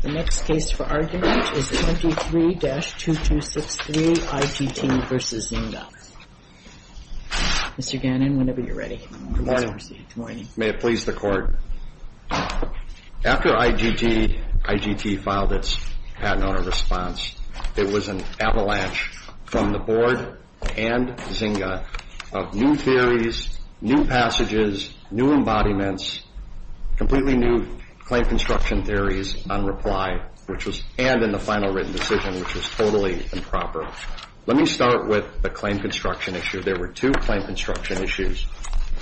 The next case for argument is 23-2263 IGT v. Zynga. Mr. Gannon, whenever you're ready. Good morning. May it please the Court. After IGT filed its patent owner response, it was an avalanche from the Board and Zynga of new theories, new passages, new embodiments, completely new claim construction theories on reply and in the final written decision, which was totally improper. Let me start with the claim construction issue. There were two claim construction issues.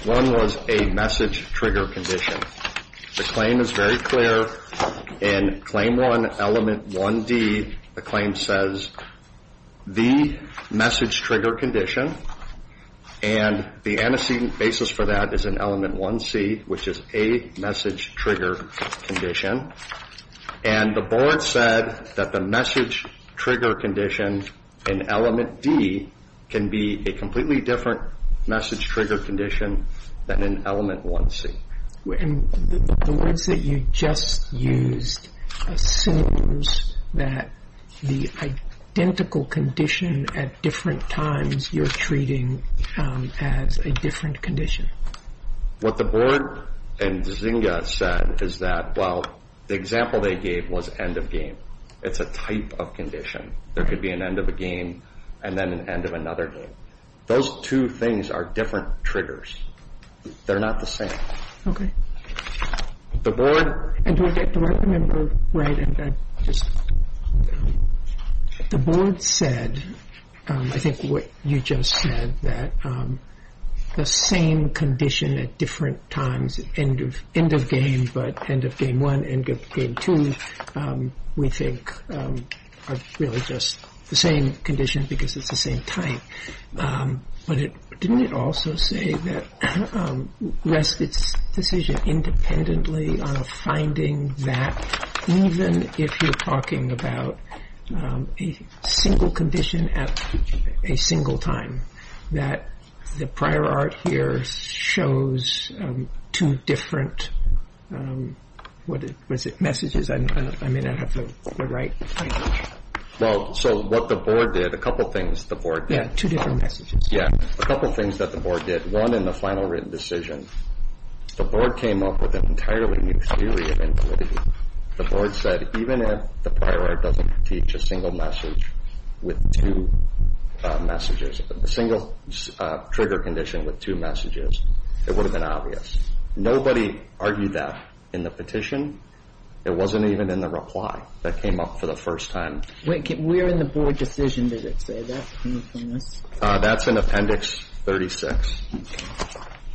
One was a message trigger condition. The claim is very clear. In Claim 1, Element 1D, the claim says, the message trigger condition, and the antecedent basis for that is in Element 1C, which is a message trigger condition. And the Board said that the message trigger condition in Element D can be a completely different message trigger condition than in Element 1C. The words that you just used assumes that the identical condition at different times you're treating as a different condition. What the Board and Zynga said is that, well, the example they gave was end of game. It's a type of condition. There could be an end of a game and then an end of another game. Those two things are different triggers. They're not the same. Okay. The Board. And do I get the right number right? The Board said, I think what you just said, that the same condition at different times, end of game, but end of game 1, end of game 2, we think are really just the same condition because it's the same type. But didn't it also say that respite's decision independently of finding that, even if you're talking about a single condition at a single time, that the prior art here shows two different messages? I may not have the right language. Well, so what the Board did, a couple things the Board did. Yeah, two different messages. Yeah, a couple things that the Board did. One, in the final written decision, the Board came up with an entirely new theory. The Board said, even if the prior art doesn't teach a single message with two messages, a single trigger condition with two messages, it would have been obvious. Nobody argued that in the petition. It wasn't even in the reply that came up for the first time. Where in the Board decision does it say that? That's in Appendix 36.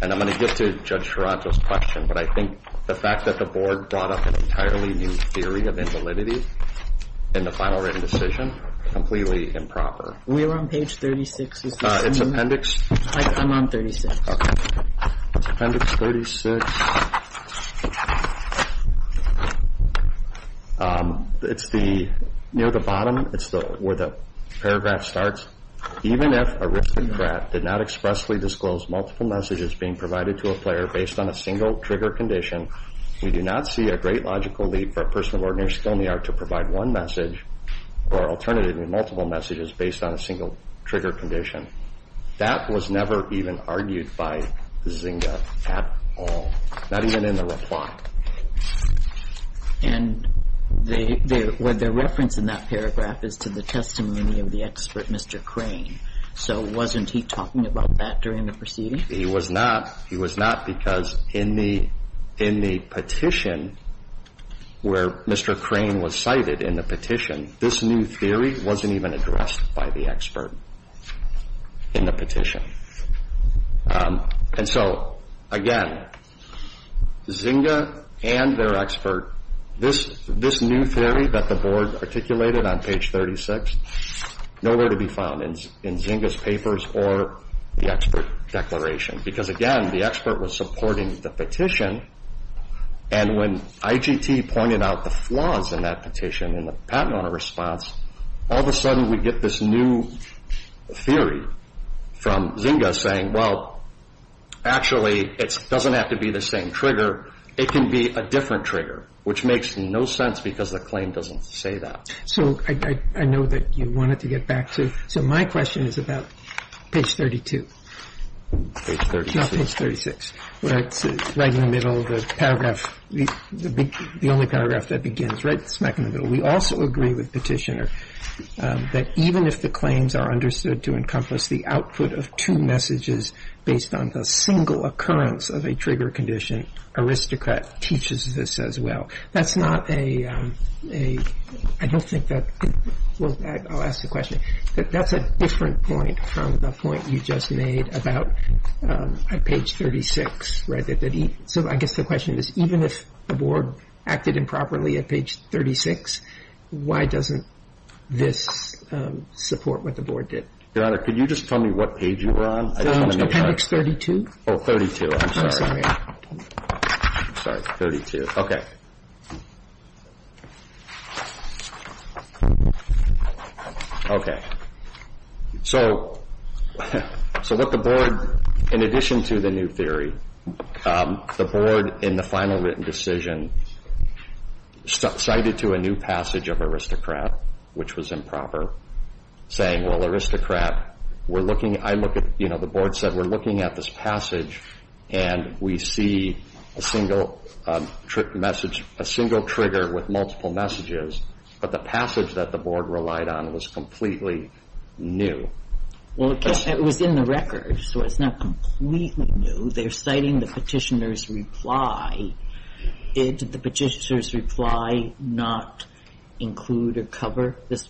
And I'm going to get to Judge Charanto's question, but I think the fact that the Board brought up an entirely new theory of invalidity in the final written decision, completely improper. We're on page 36. It's Appendix... I'm on 36. Appendix 36. It's near the bottom. It's where the paragraph starts. Even if a risk and threat did not expressly disclose multiple messages being provided to a player based on a single trigger condition, we do not see a great logical leap for a person of ordinary skill in the art to provide one message or alternatively multiple messages based on a single trigger condition. That was never even argued by Zinga at all. Not even in the reply. And what they're referencing in that paragraph is to the testimony of the expert, Mr. Crane. So wasn't he talking about that during the proceeding? He was not. He was not because in the petition where Mr. Crane was cited in the petition, this new theory wasn't even addressed by the expert. In the petition. And so again, Zinga and their expert, this new theory that the board articulated on page 36, nowhere to be found in Zinga's papers or the expert declaration because again, the expert was supporting the petition and when IGT pointed out the flaws in that petition in the patent owner response, all of a sudden we get this new theory from Zinga saying, well, actually it doesn't have to be the same trigger. It can be a different trigger, which makes no sense because the claim doesn't say that. So I know that you wanted to get back to, so my question is about page 32. Page 36. No, page 36. Right in the middle of the paragraph, the only paragraph that begins right smack in the middle. We also agree with Petitioner that even if the claims are understood to encompass the output of two messages based on the single occurrence of a trigger condition, Aristocrat teaches this as well. That's not a, I don't think that, well, I'll ask the question. That's a different point from the point you just made about page 36. So I guess the question is, even if the board acted improperly at page 36, why doesn't this support what the board did? Your Honor, could you just tell me what page you were on? It's appendix 32. Oh, 32. I'm sorry. Sorry, 32. Okay. So what the board, in addition to the new theory, the board in the final written decision cited to a new passage of Aristocrat, which was improper, saying, well, Aristocrat, we're looking, I look at, you know, the board said we're looking at this passage and we see a single message, a single trigger with multiple messages, but the passage that the board relied on was completely new. Well, it was in the record, so it's not completely new. They're citing the Petitioner's reply. Did the Petitioner's reply not include or cover this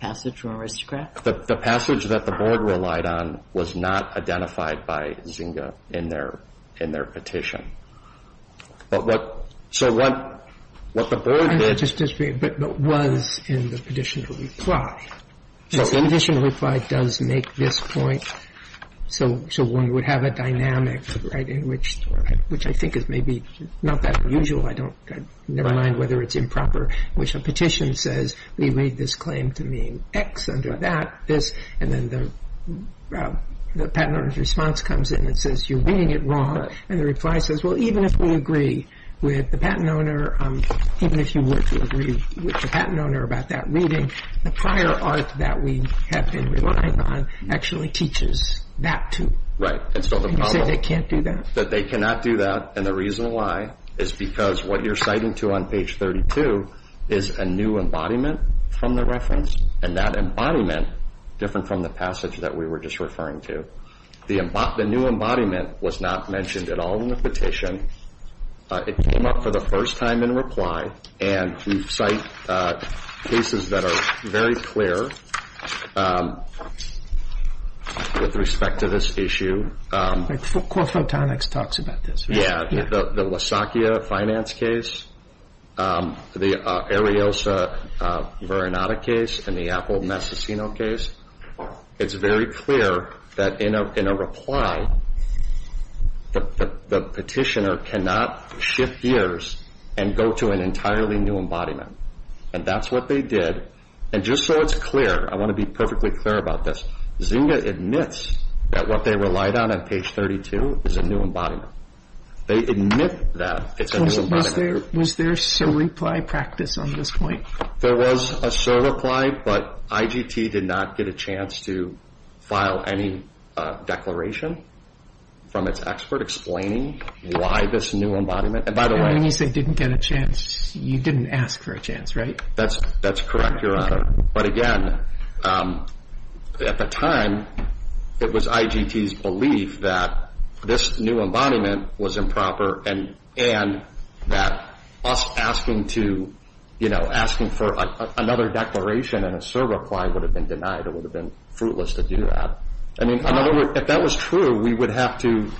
passage from Aristocrat? The passage that the board relied on was not identified by Zynga in their petition. But what the board did was in the Petitioner's reply. The Petitioner's reply does make this point. So one would have a dynamic in which, which I think is maybe not that usual, I don't, never mind whether it's improper, in which a petition says we made this claim to mean X under that, this, and then the Patent Owner's response comes in and says you're reading it wrong, and the reply says, well, even if we agree with the Patent Owner, even if you were to agree with the Patent Owner about that reading, the prior art that we have been relying on actually teaches that too. Right. And you say they can't do that. That they cannot do that, and the reason why is because what you're citing to on page 32 is a new embodiment from the reference, and that embodiment different from the passage that we were just referring to. The new embodiment was not mentioned at all in the petition. It came up for the first time in reply, and we cite cases that are very clear with respect to this issue. Core Photonics talks about this. Yeah, the Lasakia finance case, the Ariosa-Varinata case, and the Apple-Massacino case. It's very clear that in a reply, the petitioner cannot shift gears and go to an entirely new embodiment, and that's what they did, and just so it's clear, I want to be perfectly clear about this, Zynga admits that what they relied on on page 32 is a new embodiment. They admit that it's a new embodiment. Was there a surreply practice on this point? There was a surreply, but IGT did not get a chance to file any declaration from its expert explaining why this new embodiment, and by the way. And when you say didn't get a chance, you didn't ask for a chance, right? That's correct, Your Honor. But again, at the time, it was IGT's belief that this new embodiment was improper and that us asking for another declaration and a surreply would have been denied. It would have been fruitless to do that. I mean, in other words, if that was true, we would have to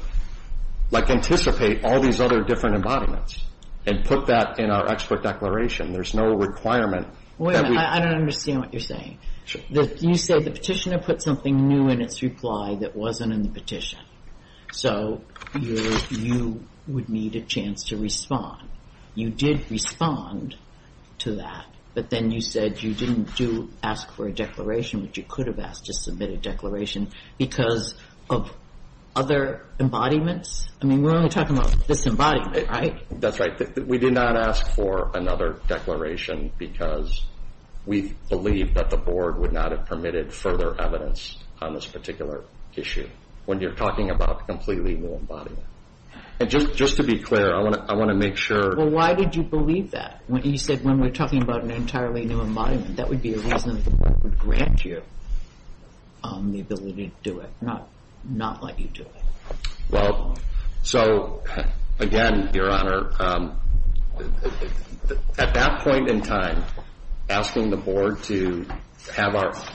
anticipate all these other different embodiments and put that in our expert declaration. There's no requirement. Wait a minute. I don't understand what you're saying. You say the petitioner put something new in its reply that wasn't in the petition, so you would need a chance to respond. You did respond to that, but then you said you didn't ask for a declaration, which you could have asked to submit a declaration because of other embodiments. I mean, we're only talking about this embodiment, right? That's right. We did not ask for another declaration because we believe that the Board would not have permitted further evidence on this particular issue when you're talking about a completely new embodiment. Just to be clear, I want to make sure. Well, why did you believe that? You said when we're talking about an entirely new embodiment, that would be a reason that the Board would grant you the ability to do it, not let you do it. Well, so again, Your Honor, at that point in time, asking the Board to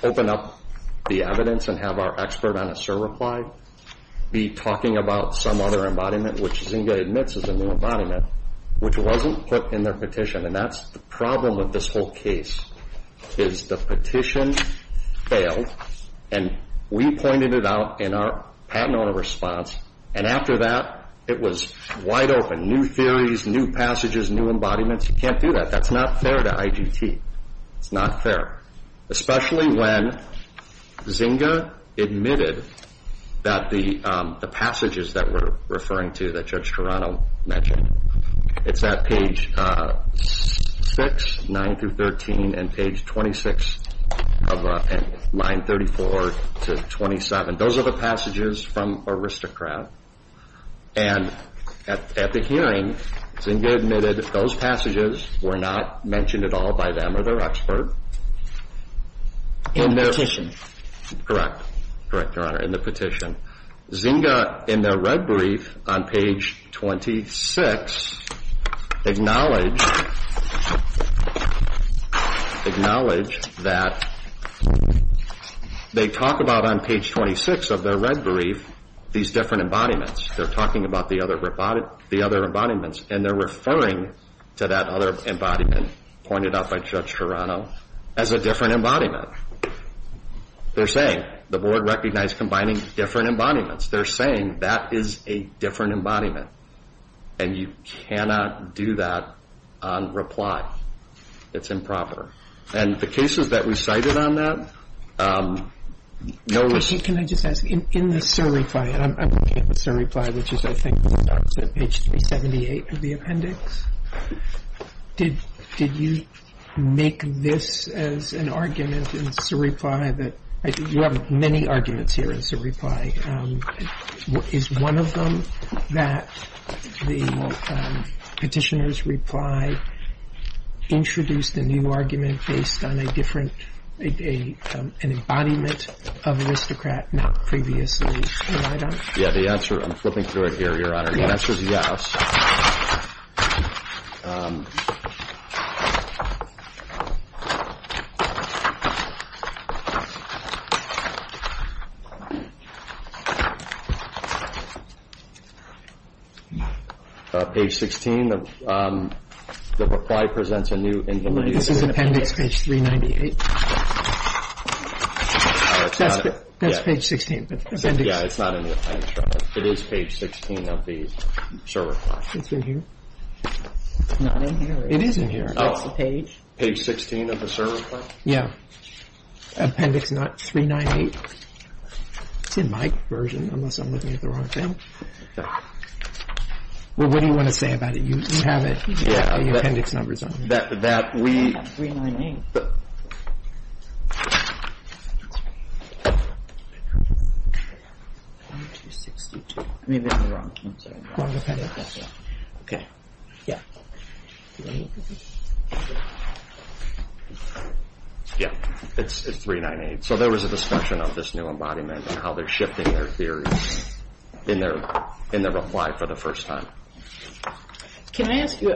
open up the evidence and have our expert on a SIR reply, be talking about some other embodiment, which Zinga admits is a new embodiment, which wasn't put in their petition, and that's the problem with this whole case is the petition failed, and we pointed it out in our patent owner response, and after that it was wide open. New theories, new passages, new embodiments. You can't do that. That's not fair to IGT. It's not fair, especially when Zinga admitted that the passages that we're referring to that Judge Toronto mentioned, it's at page 6, 9 through 13, and page 26 of line 34 to 27. Those are the passages from Aristocrat, and at the hearing, Zinga admitted those passages were not mentioned at all by them or their expert. In the petition. Correct. Correct, Your Honor, in the petition. Zinga, in their red brief on page 26, acknowledged that they talk about on page 26 of their red brief these different embodiments. They're talking about the other embodiments, and they're referring to that other embodiment pointed out by Judge Toronto as a different embodiment. They're saying the board recognized combining different embodiments. They're saying that is a different embodiment, and you cannot do that on reply. It's improper. And the cases that we cited on that. Can I just ask, in the SIR reply, and I'm looking at the SIR reply, which is I think when I was at page 378 of the appendix, did you make this as an argument in SIR reply? You have many arguments here in SIR reply. Is one of them that the petitioner's reply introduced a new argument based on an embodiment of Aristocrat not previously relied on? Yeah, the answer, I'm flipping through it here, Your Honor. The answer is yes. Page 16, the reply presents a new individual. This is appendix page 398. That's page 16. Yeah, it's not in the appendix. It is page 16 of the SIR reply. It's in here? It's not in here. It is in here. It's the page. Page 16 of the SIR reply? Yeah. Appendix 398. It's in my version, unless I'm looking at the wrong thing. Well, what do you want to say about it? You have it, the appendix numbers on it. It's not in 398. Maybe I'm wrong. I'm sorry. Okay, yeah. Yeah, it's 398. So there was a discussion of this new embodiment and how they're shifting their theory in their reply for the first time. Can I ask you,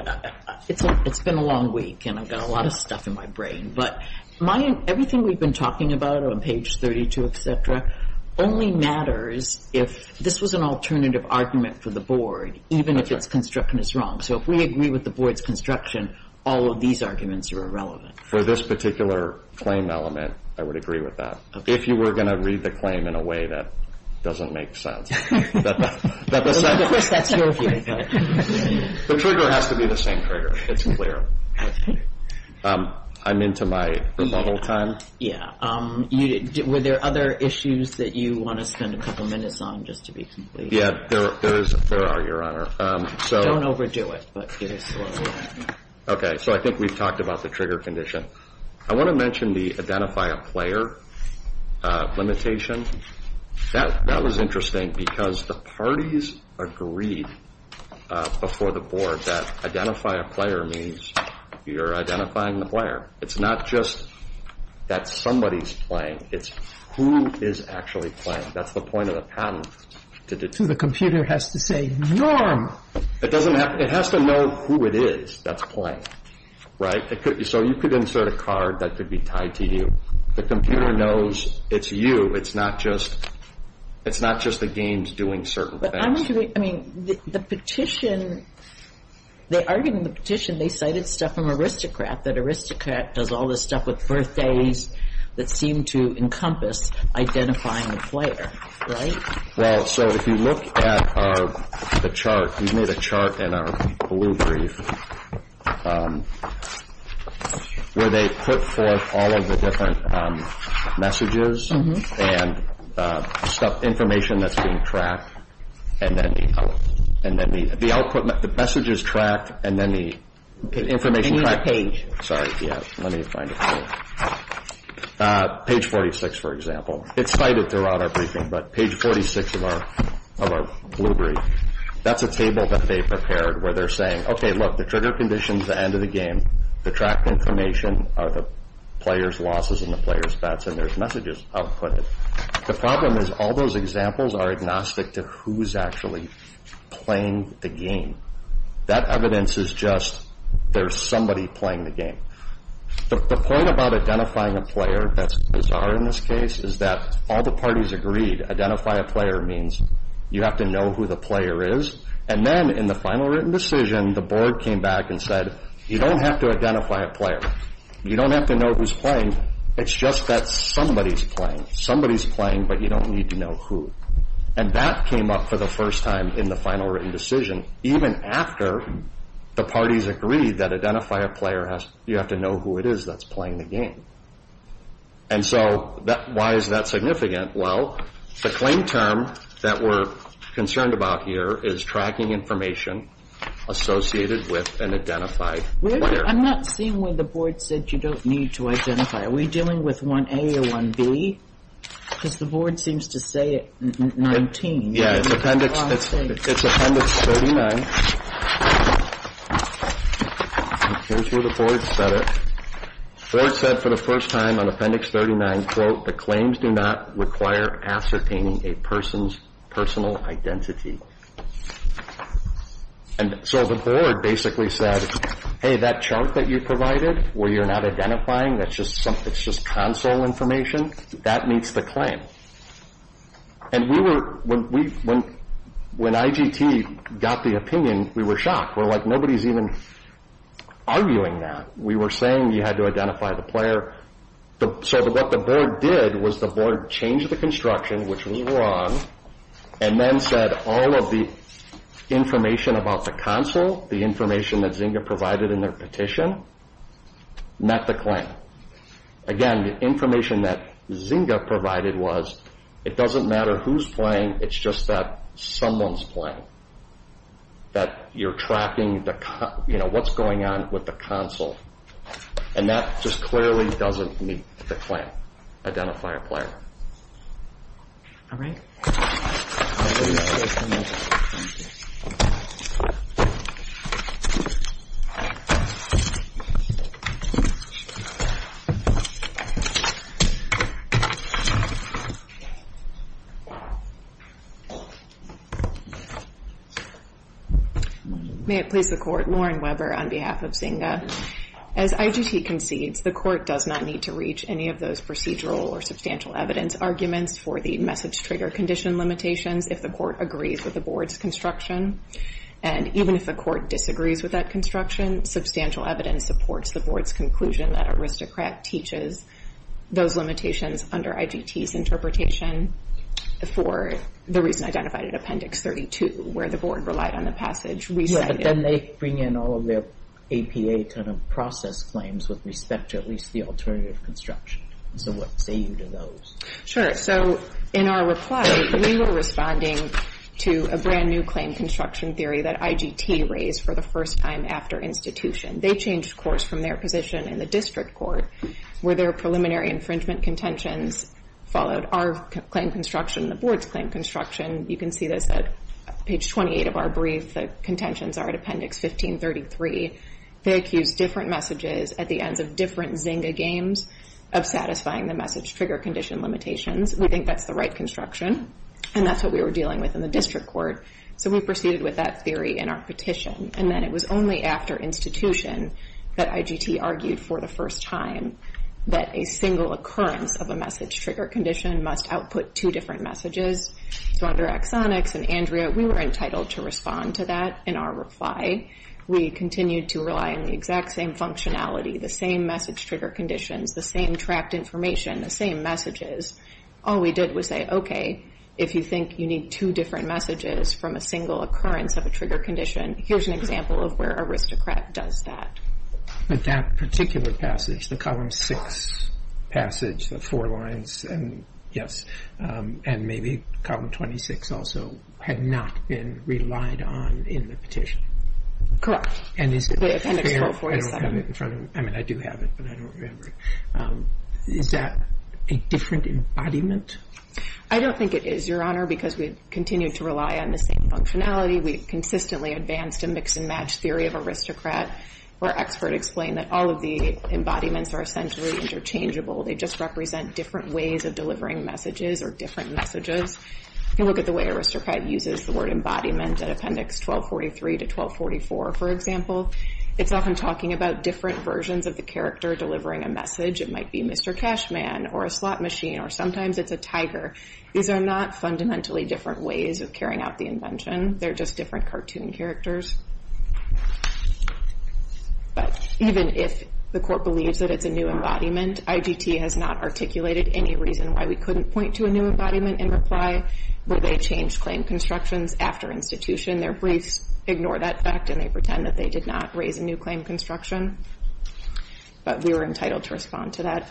it's been a long week and I've got a lot of stuff in my brain, but everything we've been talking about on page 32, et cetera, only matters if this was an alternative argument for the Board, even if its construction is wrong. So if we agree with the Board's construction, all of these arguments are irrelevant. For this particular claim element, I would agree with that. If you were going to read the claim in a way that doesn't make sense. Of course, that's your view. The trigger has to be the same trigger. It's clear. I'm into my rebuttal time. Yeah. Were there other issues that you want to spend a couple minutes on just to be complete? Yeah, there are, Your Honor. Don't overdo it. Okay, so I think we've talked about the trigger condition. I want to mention the identify a player limitation. That was interesting because the parties agreed before the Board that identify a player means you're identifying the player. It's not just that somebody's playing. It's who is actually playing. That's the point of the patent. So the computer has to say norm. It has to know who it is that's playing, right? So you could insert a card that could be tied to you. The computer knows it's you. It's not just the games doing certain things. But I'm wondering, I mean, the petition, they argued in the petition, they cited stuff from aristocrat, that aristocrat does all this stuff with birthdays that seem to encompass identifying the player, right? Well, so if you look at the chart, we made a chart in our blue brief where they put forth all of the different messages and stuff, information that's being tracked, and then the messages tracked and then the information tracked. In the page. Sorry, yeah, let me find it. Page 46, for example. It's cited throughout our briefing, but page 46 of our blue brief, that's a table that they prepared where they're saying, okay, look, the trigger condition's the end of the game. The tracked information are the player's losses and the player's bets, and there's messages outputted. The problem is all those examples are agnostic to who's actually playing the game. That evidence is just there's somebody playing the game. The point about identifying a player that's bizarre in this case is that all the parties agreed identify a player means you have to know who the player is, and then in the final written decision, when the board came back and said, you don't have to identify a player. You don't have to know who's playing. It's just that somebody's playing. Somebody's playing, but you don't need to know who. And that came up for the first time in the final written decision even after the parties agreed that identify a player, you have to know who it is that's playing the game. And so why is that significant? Well, the claim term that we're concerned about here is tracking information associated with an identified player. I'm not seeing where the board said you don't need to identify. Are we dealing with 1A or 1B? Because the board seems to say 19. Yeah, it's appendix 39. Here's where the board said it. The board said for the first time on appendix 39, quote, the claims do not require ascertaining a person's personal identity. And so the board basically said, hey, that chart that you provided where you're not identifying, it's just console information, that meets the claim. And when IGT got the opinion, we were shocked. We're like, nobody's even arguing that. We were saying you had to identify the player. So what the board did was the board changed the construction, which was wrong, and then said all of the information about the console, the information that Zynga provided in their petition, met the claim. Again, the information that Zynga provided was it doesn't matter who's playing, it's just that someone's playing, that you're tracking what's going on with the console. And that just clearly doesn't meet the claim, identify a player. All right. May it please the Court, Lauren Weber on behalf of Zynga. As IGT concedes, the Court does not need to reach any of those procedural or substantial evidence arguments for the message trigger condition limitations if the Court agrees with the board's construction. And even if the Court disagrees with that construction, substantial evidence supports the board's conclusion that Aristocrat teaches those limitations under IGT's interpretation for the reason identified in Appendix 32, where the board relied on the passage recited. Yeah, but then they bring in all of their APA kind of process claims with respect to at least the alternative construction. So what say you to those? So in our reply, we were responding to a brand new claim construction theory that IGT raised for the first time after institution. They changed course from their position in the district court where their preliminary infringement contentions followed our claim construction, the board's claim construction. You can see this at page 28 of our brief. The contentions are at Appendix 1533. They accuse different messages at the ends of different Zynga games of satisfying the message trigger condition limitations. We think that's the right construction, and that's what we were dealing with in the district court. So we proceeded with that theory in our petition. And then it was only after institution that IGT argued for the first time that a single occurrence of a message trigger condition must output two different messages. So under Exonix and Andrea, we were entitled to respond to that in our reply. We continued to rely on the exact same functionality, the same message trigger conditions, the same tracked information, the same messages. All we did was say, okay, if you think you need two different messages from a single occurrence of a trigger condition, here's an example of where Aristocrat does that. But that particular passage, the Column 6 passage, the four lines, and maybe Column 26 also had not been relied on in the petition. Correct. And is it fair? With Appendix 147. I don't have it in front of me. I mean, I do have it, but I don't remember it. Is that a different embodiment? I don't think it is, Your Honor, because we continued to rely on the same functionality. We consistently advanced a mix-and-match theory of Aristocrat where an expert explained that all of the embodiments are essentially interchangeable. They just represent different ways of delivering messages or different messages. If you look at the way Aristocrat uses the word embodiment in Appendix 1243 to 1244, for example, it's often talking about different versions of the character delivering a message. It might be Mr. Cashman or a slot machine, or sometimes it's a tiger. These are not fundamentally different ways of carrying out the invention. They're just different cartoon characters. But even if the Court believes that it's a new embodiment, IGT has not articulated any reason why we couldn't point to a new embodiment in reply. Would they change claim constructions after institution? Their briefs ignore that fact, and they pretend that they did not raise a new claim construction. But we were entitled to respond to that.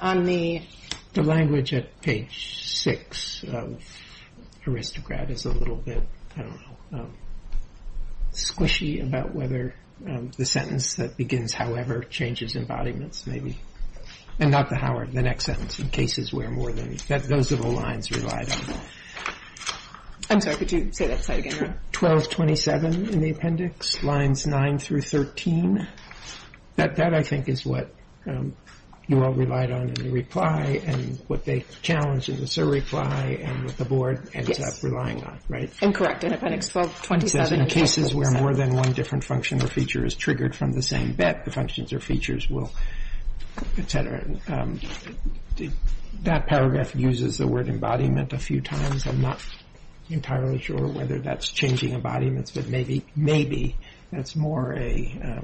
The language at page 6 of Aristocrat is a little bit squishy about whether the sentence that begins however changes embodiments, maybe. And not the however, the next sentence. In cases where more than... those are the lines relied on. I'm sorry, could you say that slide again? 1227 in the Appendix, lines 9 through 13. That, I think, is what you all relied on in the reply and what they challenged in the surreply and what the Board ends up relying on, right? Incorrect in Appendix 1227. In cases where more than one different function or feature is triggered from the same bet, the functions or features will, etc. That paragraph uses the word embodiment a few times. I'm not entirely sure whether that's changing embodiments, but maybe that's more a,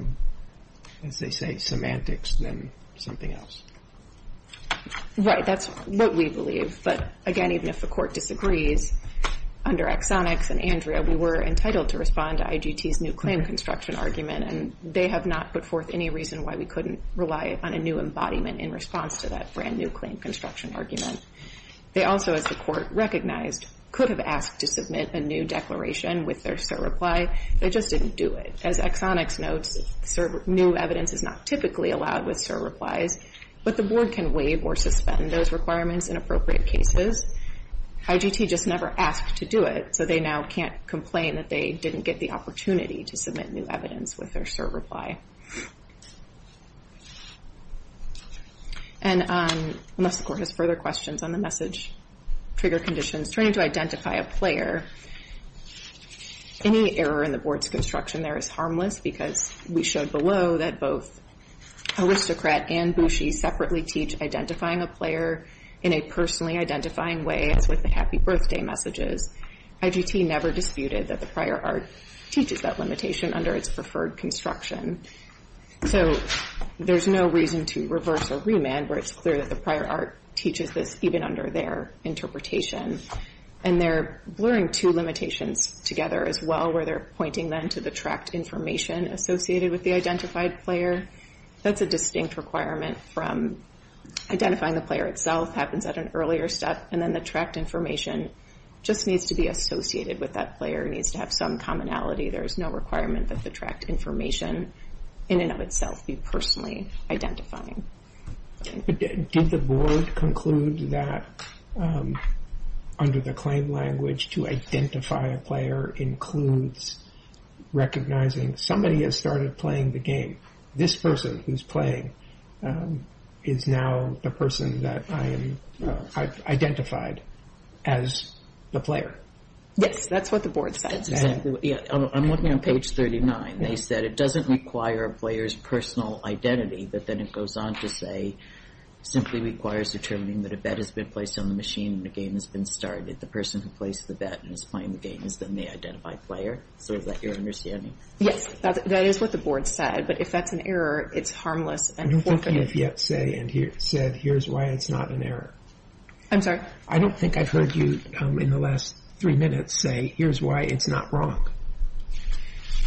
as they say, semantics than something else. Right, that's what we believe. But again, even if the Court disagrees, under Exonix and Andrea we were entitled to respond to IGT's new claim construction argument, and they have not put forth any reason why we couldn't rely on a new embodiment in response to that brand-new claim construction argument. They also, as the Court recognized, could have asked to submit a new declaration with their surreply. They just didn't do it. As Exonix notes, new evidence is not typically allowed with surreplies, but the Board can waive or suspend those requirements in appropriate cases. IGT just never asked to do it, so they now can't complain that they didn't get the opportunity to submit new evidence with their surreply. And unless the Court has further questions on the message trigger conditions, turning to identify a player, any error in the Board's construction there is harmless because we showed below that both Aristocrat and Boushey separately teach identifying a player in a personally identifying way, as with the happy birthday messages. IGT never disputed that the prior art teaches that limitation under its preferred construction. So there's no reason to reverse or remand where it's clear that the prior art teaches this even under their interpretation. And they're blurring two limitations together as well, where they're pointing then to the tracked information associated with the identified player. That's a distinct requirement from identifying the player itself happens at an earlier step, and then the tracked information just needs to be associated with that player, needs to have some commonality. There is no requirement that the tracked information in and of itself be personally identifying. Did the Board conclude that under the claim language to identify a player includes recognizing somebody has started playing the game? This person who's playing is now the person that I identified as the player. Yes, that's what the Board said. I'm looking on page 39. They said it doesn't require a player's personal identity, but then it goes on to say, simply requires determining that a bet has been placed on the machine and the game has been started. The person who placed the bet and is playing the game is then the identified player. Is that your understanding? Yes, that is what the Board said. But if that's an error, it's harmless and forfeited. I don't think you have yet said, here's why it's not an error. I'm sorry? I don't think I've heard you in the last three minutes say, here's why it's not wrong.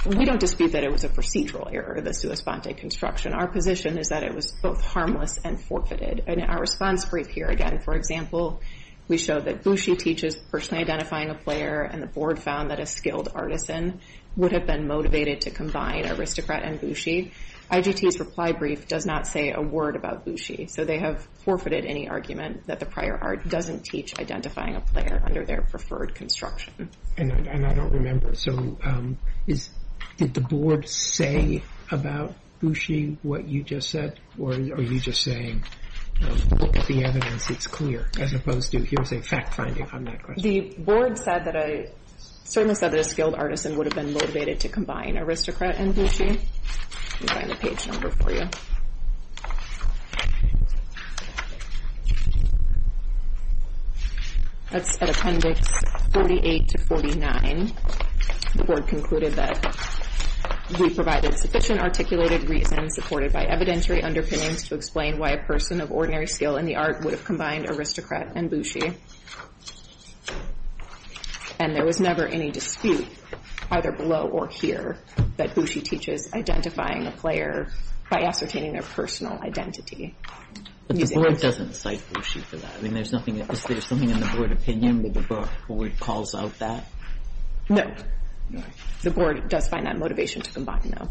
We don't dispute that it was a procedural error, the sua sponte construction. Our position is that it was both harmless and forfeited. In our response brief here, again, for example, we show that Bushi teaches personally identifying a player, and the Board found that a skilled artisan would have been motivated to combine aristocrat and Bushi. IGT's reply brief does not say a word about Bushi, so they have forfeited any argument that the prior art doesn't teach identifying a player under their preferred construction. And I don't remember, so did the Board say about Bushi what you just said, or are you just saying, look at the evidence, it's clear, as opposed to, here's a fact finding on that question. The Board said that a skilled artisan would have been motivated to combine aristocrat and Bushi. Let me find the page number for you. That's at Appendix 48 to 49. The Board concluded that we provided sufficient articulated reason supported by evidentiary underpinnings to explain why a person of ordinary skill in the art would have combined aristocrat and Bushi. And there was never any dispute, either below or here, that Bushi teaches identifying a player by ascertaining their personal identity. But the Board doesn't cite Bushi for that. I mean, there's something in the Board opinion that the Board calls out that? No. The Board does find that motivation to combine, no.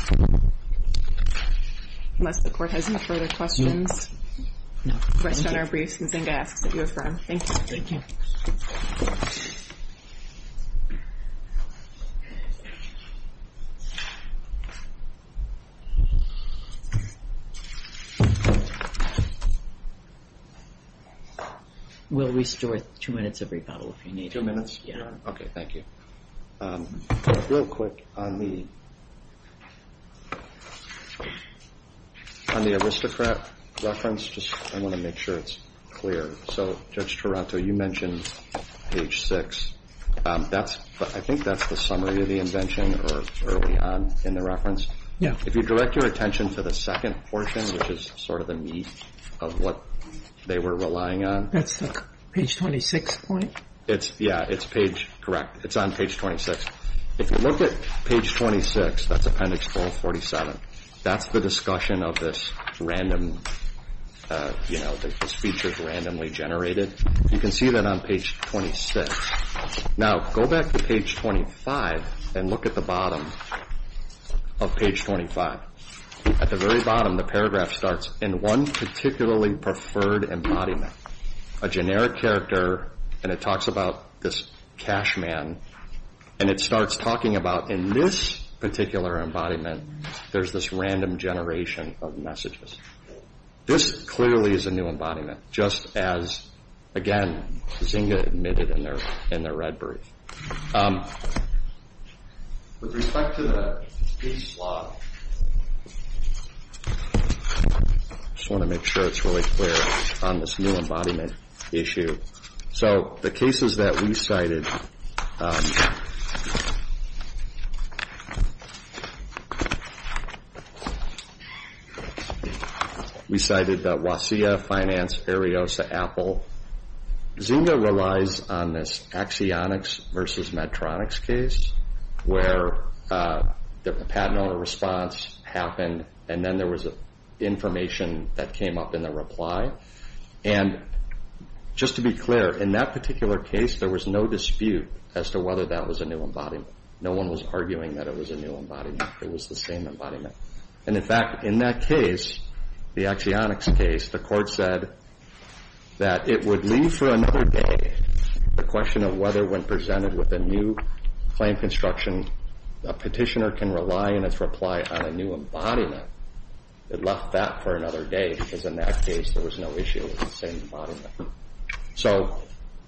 Thank you. Unless the Court has any further questions, questions or briefs, and Zenga asks that you affirm. Thank you. Thank you. We'll restore two minutes of rebuttal if you need it. Two minutes? Yeah. OK, thank you. Real quick, on the aristocrat reference, I want to make sure it's clear. So Judge Taranto, you mentioned page 6. I think that's the summary of the invention or early on in the reference. If you direct your attention to the second portion, which is sort of the meat of what they were relying on. That's the page 26 point? Yeah, it's correct. It's on page 26. If you look at page 26, that's appendix 447, that's the discussion of this random, you know, this feature is randomly generated. You can see that on page 26. Now, go back to page 25 and look at the bottom of page 25. At the very bottom, the paragraph starts, in one particularly preferred embodiment, a generic character, and it talks about this cash man, and it starts talking about, in this particular embodiment, there's this random generation of messages. This clearly is a new embodiment, just as, again, Zynga admitted in their red brief. With respect to the peace law, I just want to make sure it's really clear on this new embodiment issue. So the cases that we cited, we cited Wasilla Finance, Ariosa, Apple. Zynga relies on this Axionics versus Medtronics case where the patent owner response happened, and then there was information that came up in the reply. And just to be clear, in that particular case, there was no dispute as to whether that was a new embodiment. No one was arguing that it was a new embodiment. It was the same embodiment. And in fact, in that case, the Axionics case, the court said that it would leave for another day the question of whether when presented with a new claim construction, a petitioner can rely in its reply on a new embodiment. It left that for another day because in that case there was no issue with the same embodiment. So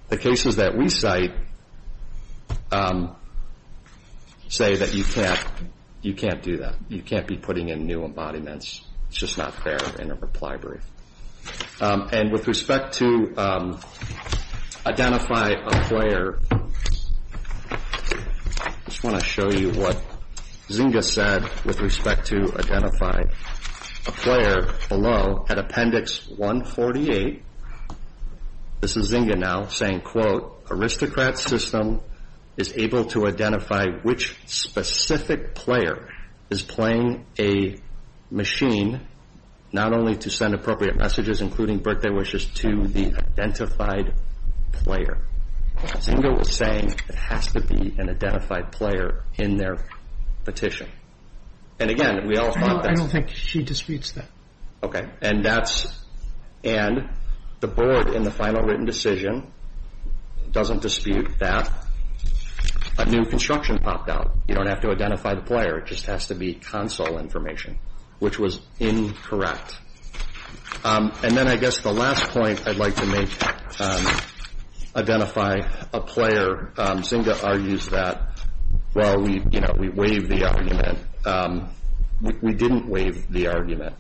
the cases that we cite say that you can't do that. You can't be putting in new embodiments. It's just not fair in a reply brief. And with respect to identify a player, I just want to show you what Zynga said with respect to identify a player below at Appendix 148. This is Zynga now saying, quote, Aristocrat system is able to identify which specific player is playing a machine not only to send appropriate messages, including birthday wishes, to the identified player. Zynga was saying it has to be an identified player in their petition. And again, we all thought that. I don't think she disputes that. Okay. And the board in the final written decision doesn't dispute that a new construction popped out. You don't have to identify the player. It just has to be console information, which was incorrect. And then I guess the last point I'd like to make, identify a player. Zynga argues that, well, we waived the argument. We didn't waive the argument.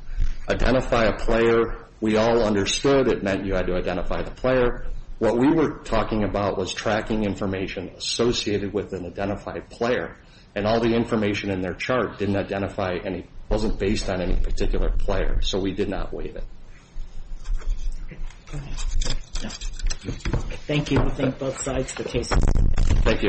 Identify a player, we all understood. It meant you had to identify the player. What we were talking about was tracking information associated with an identified player, and all the information in their chart didn't identify any, wasn't based on any particular player. So we did not waive it. Thank you. We thank both sides for cases. Thank you.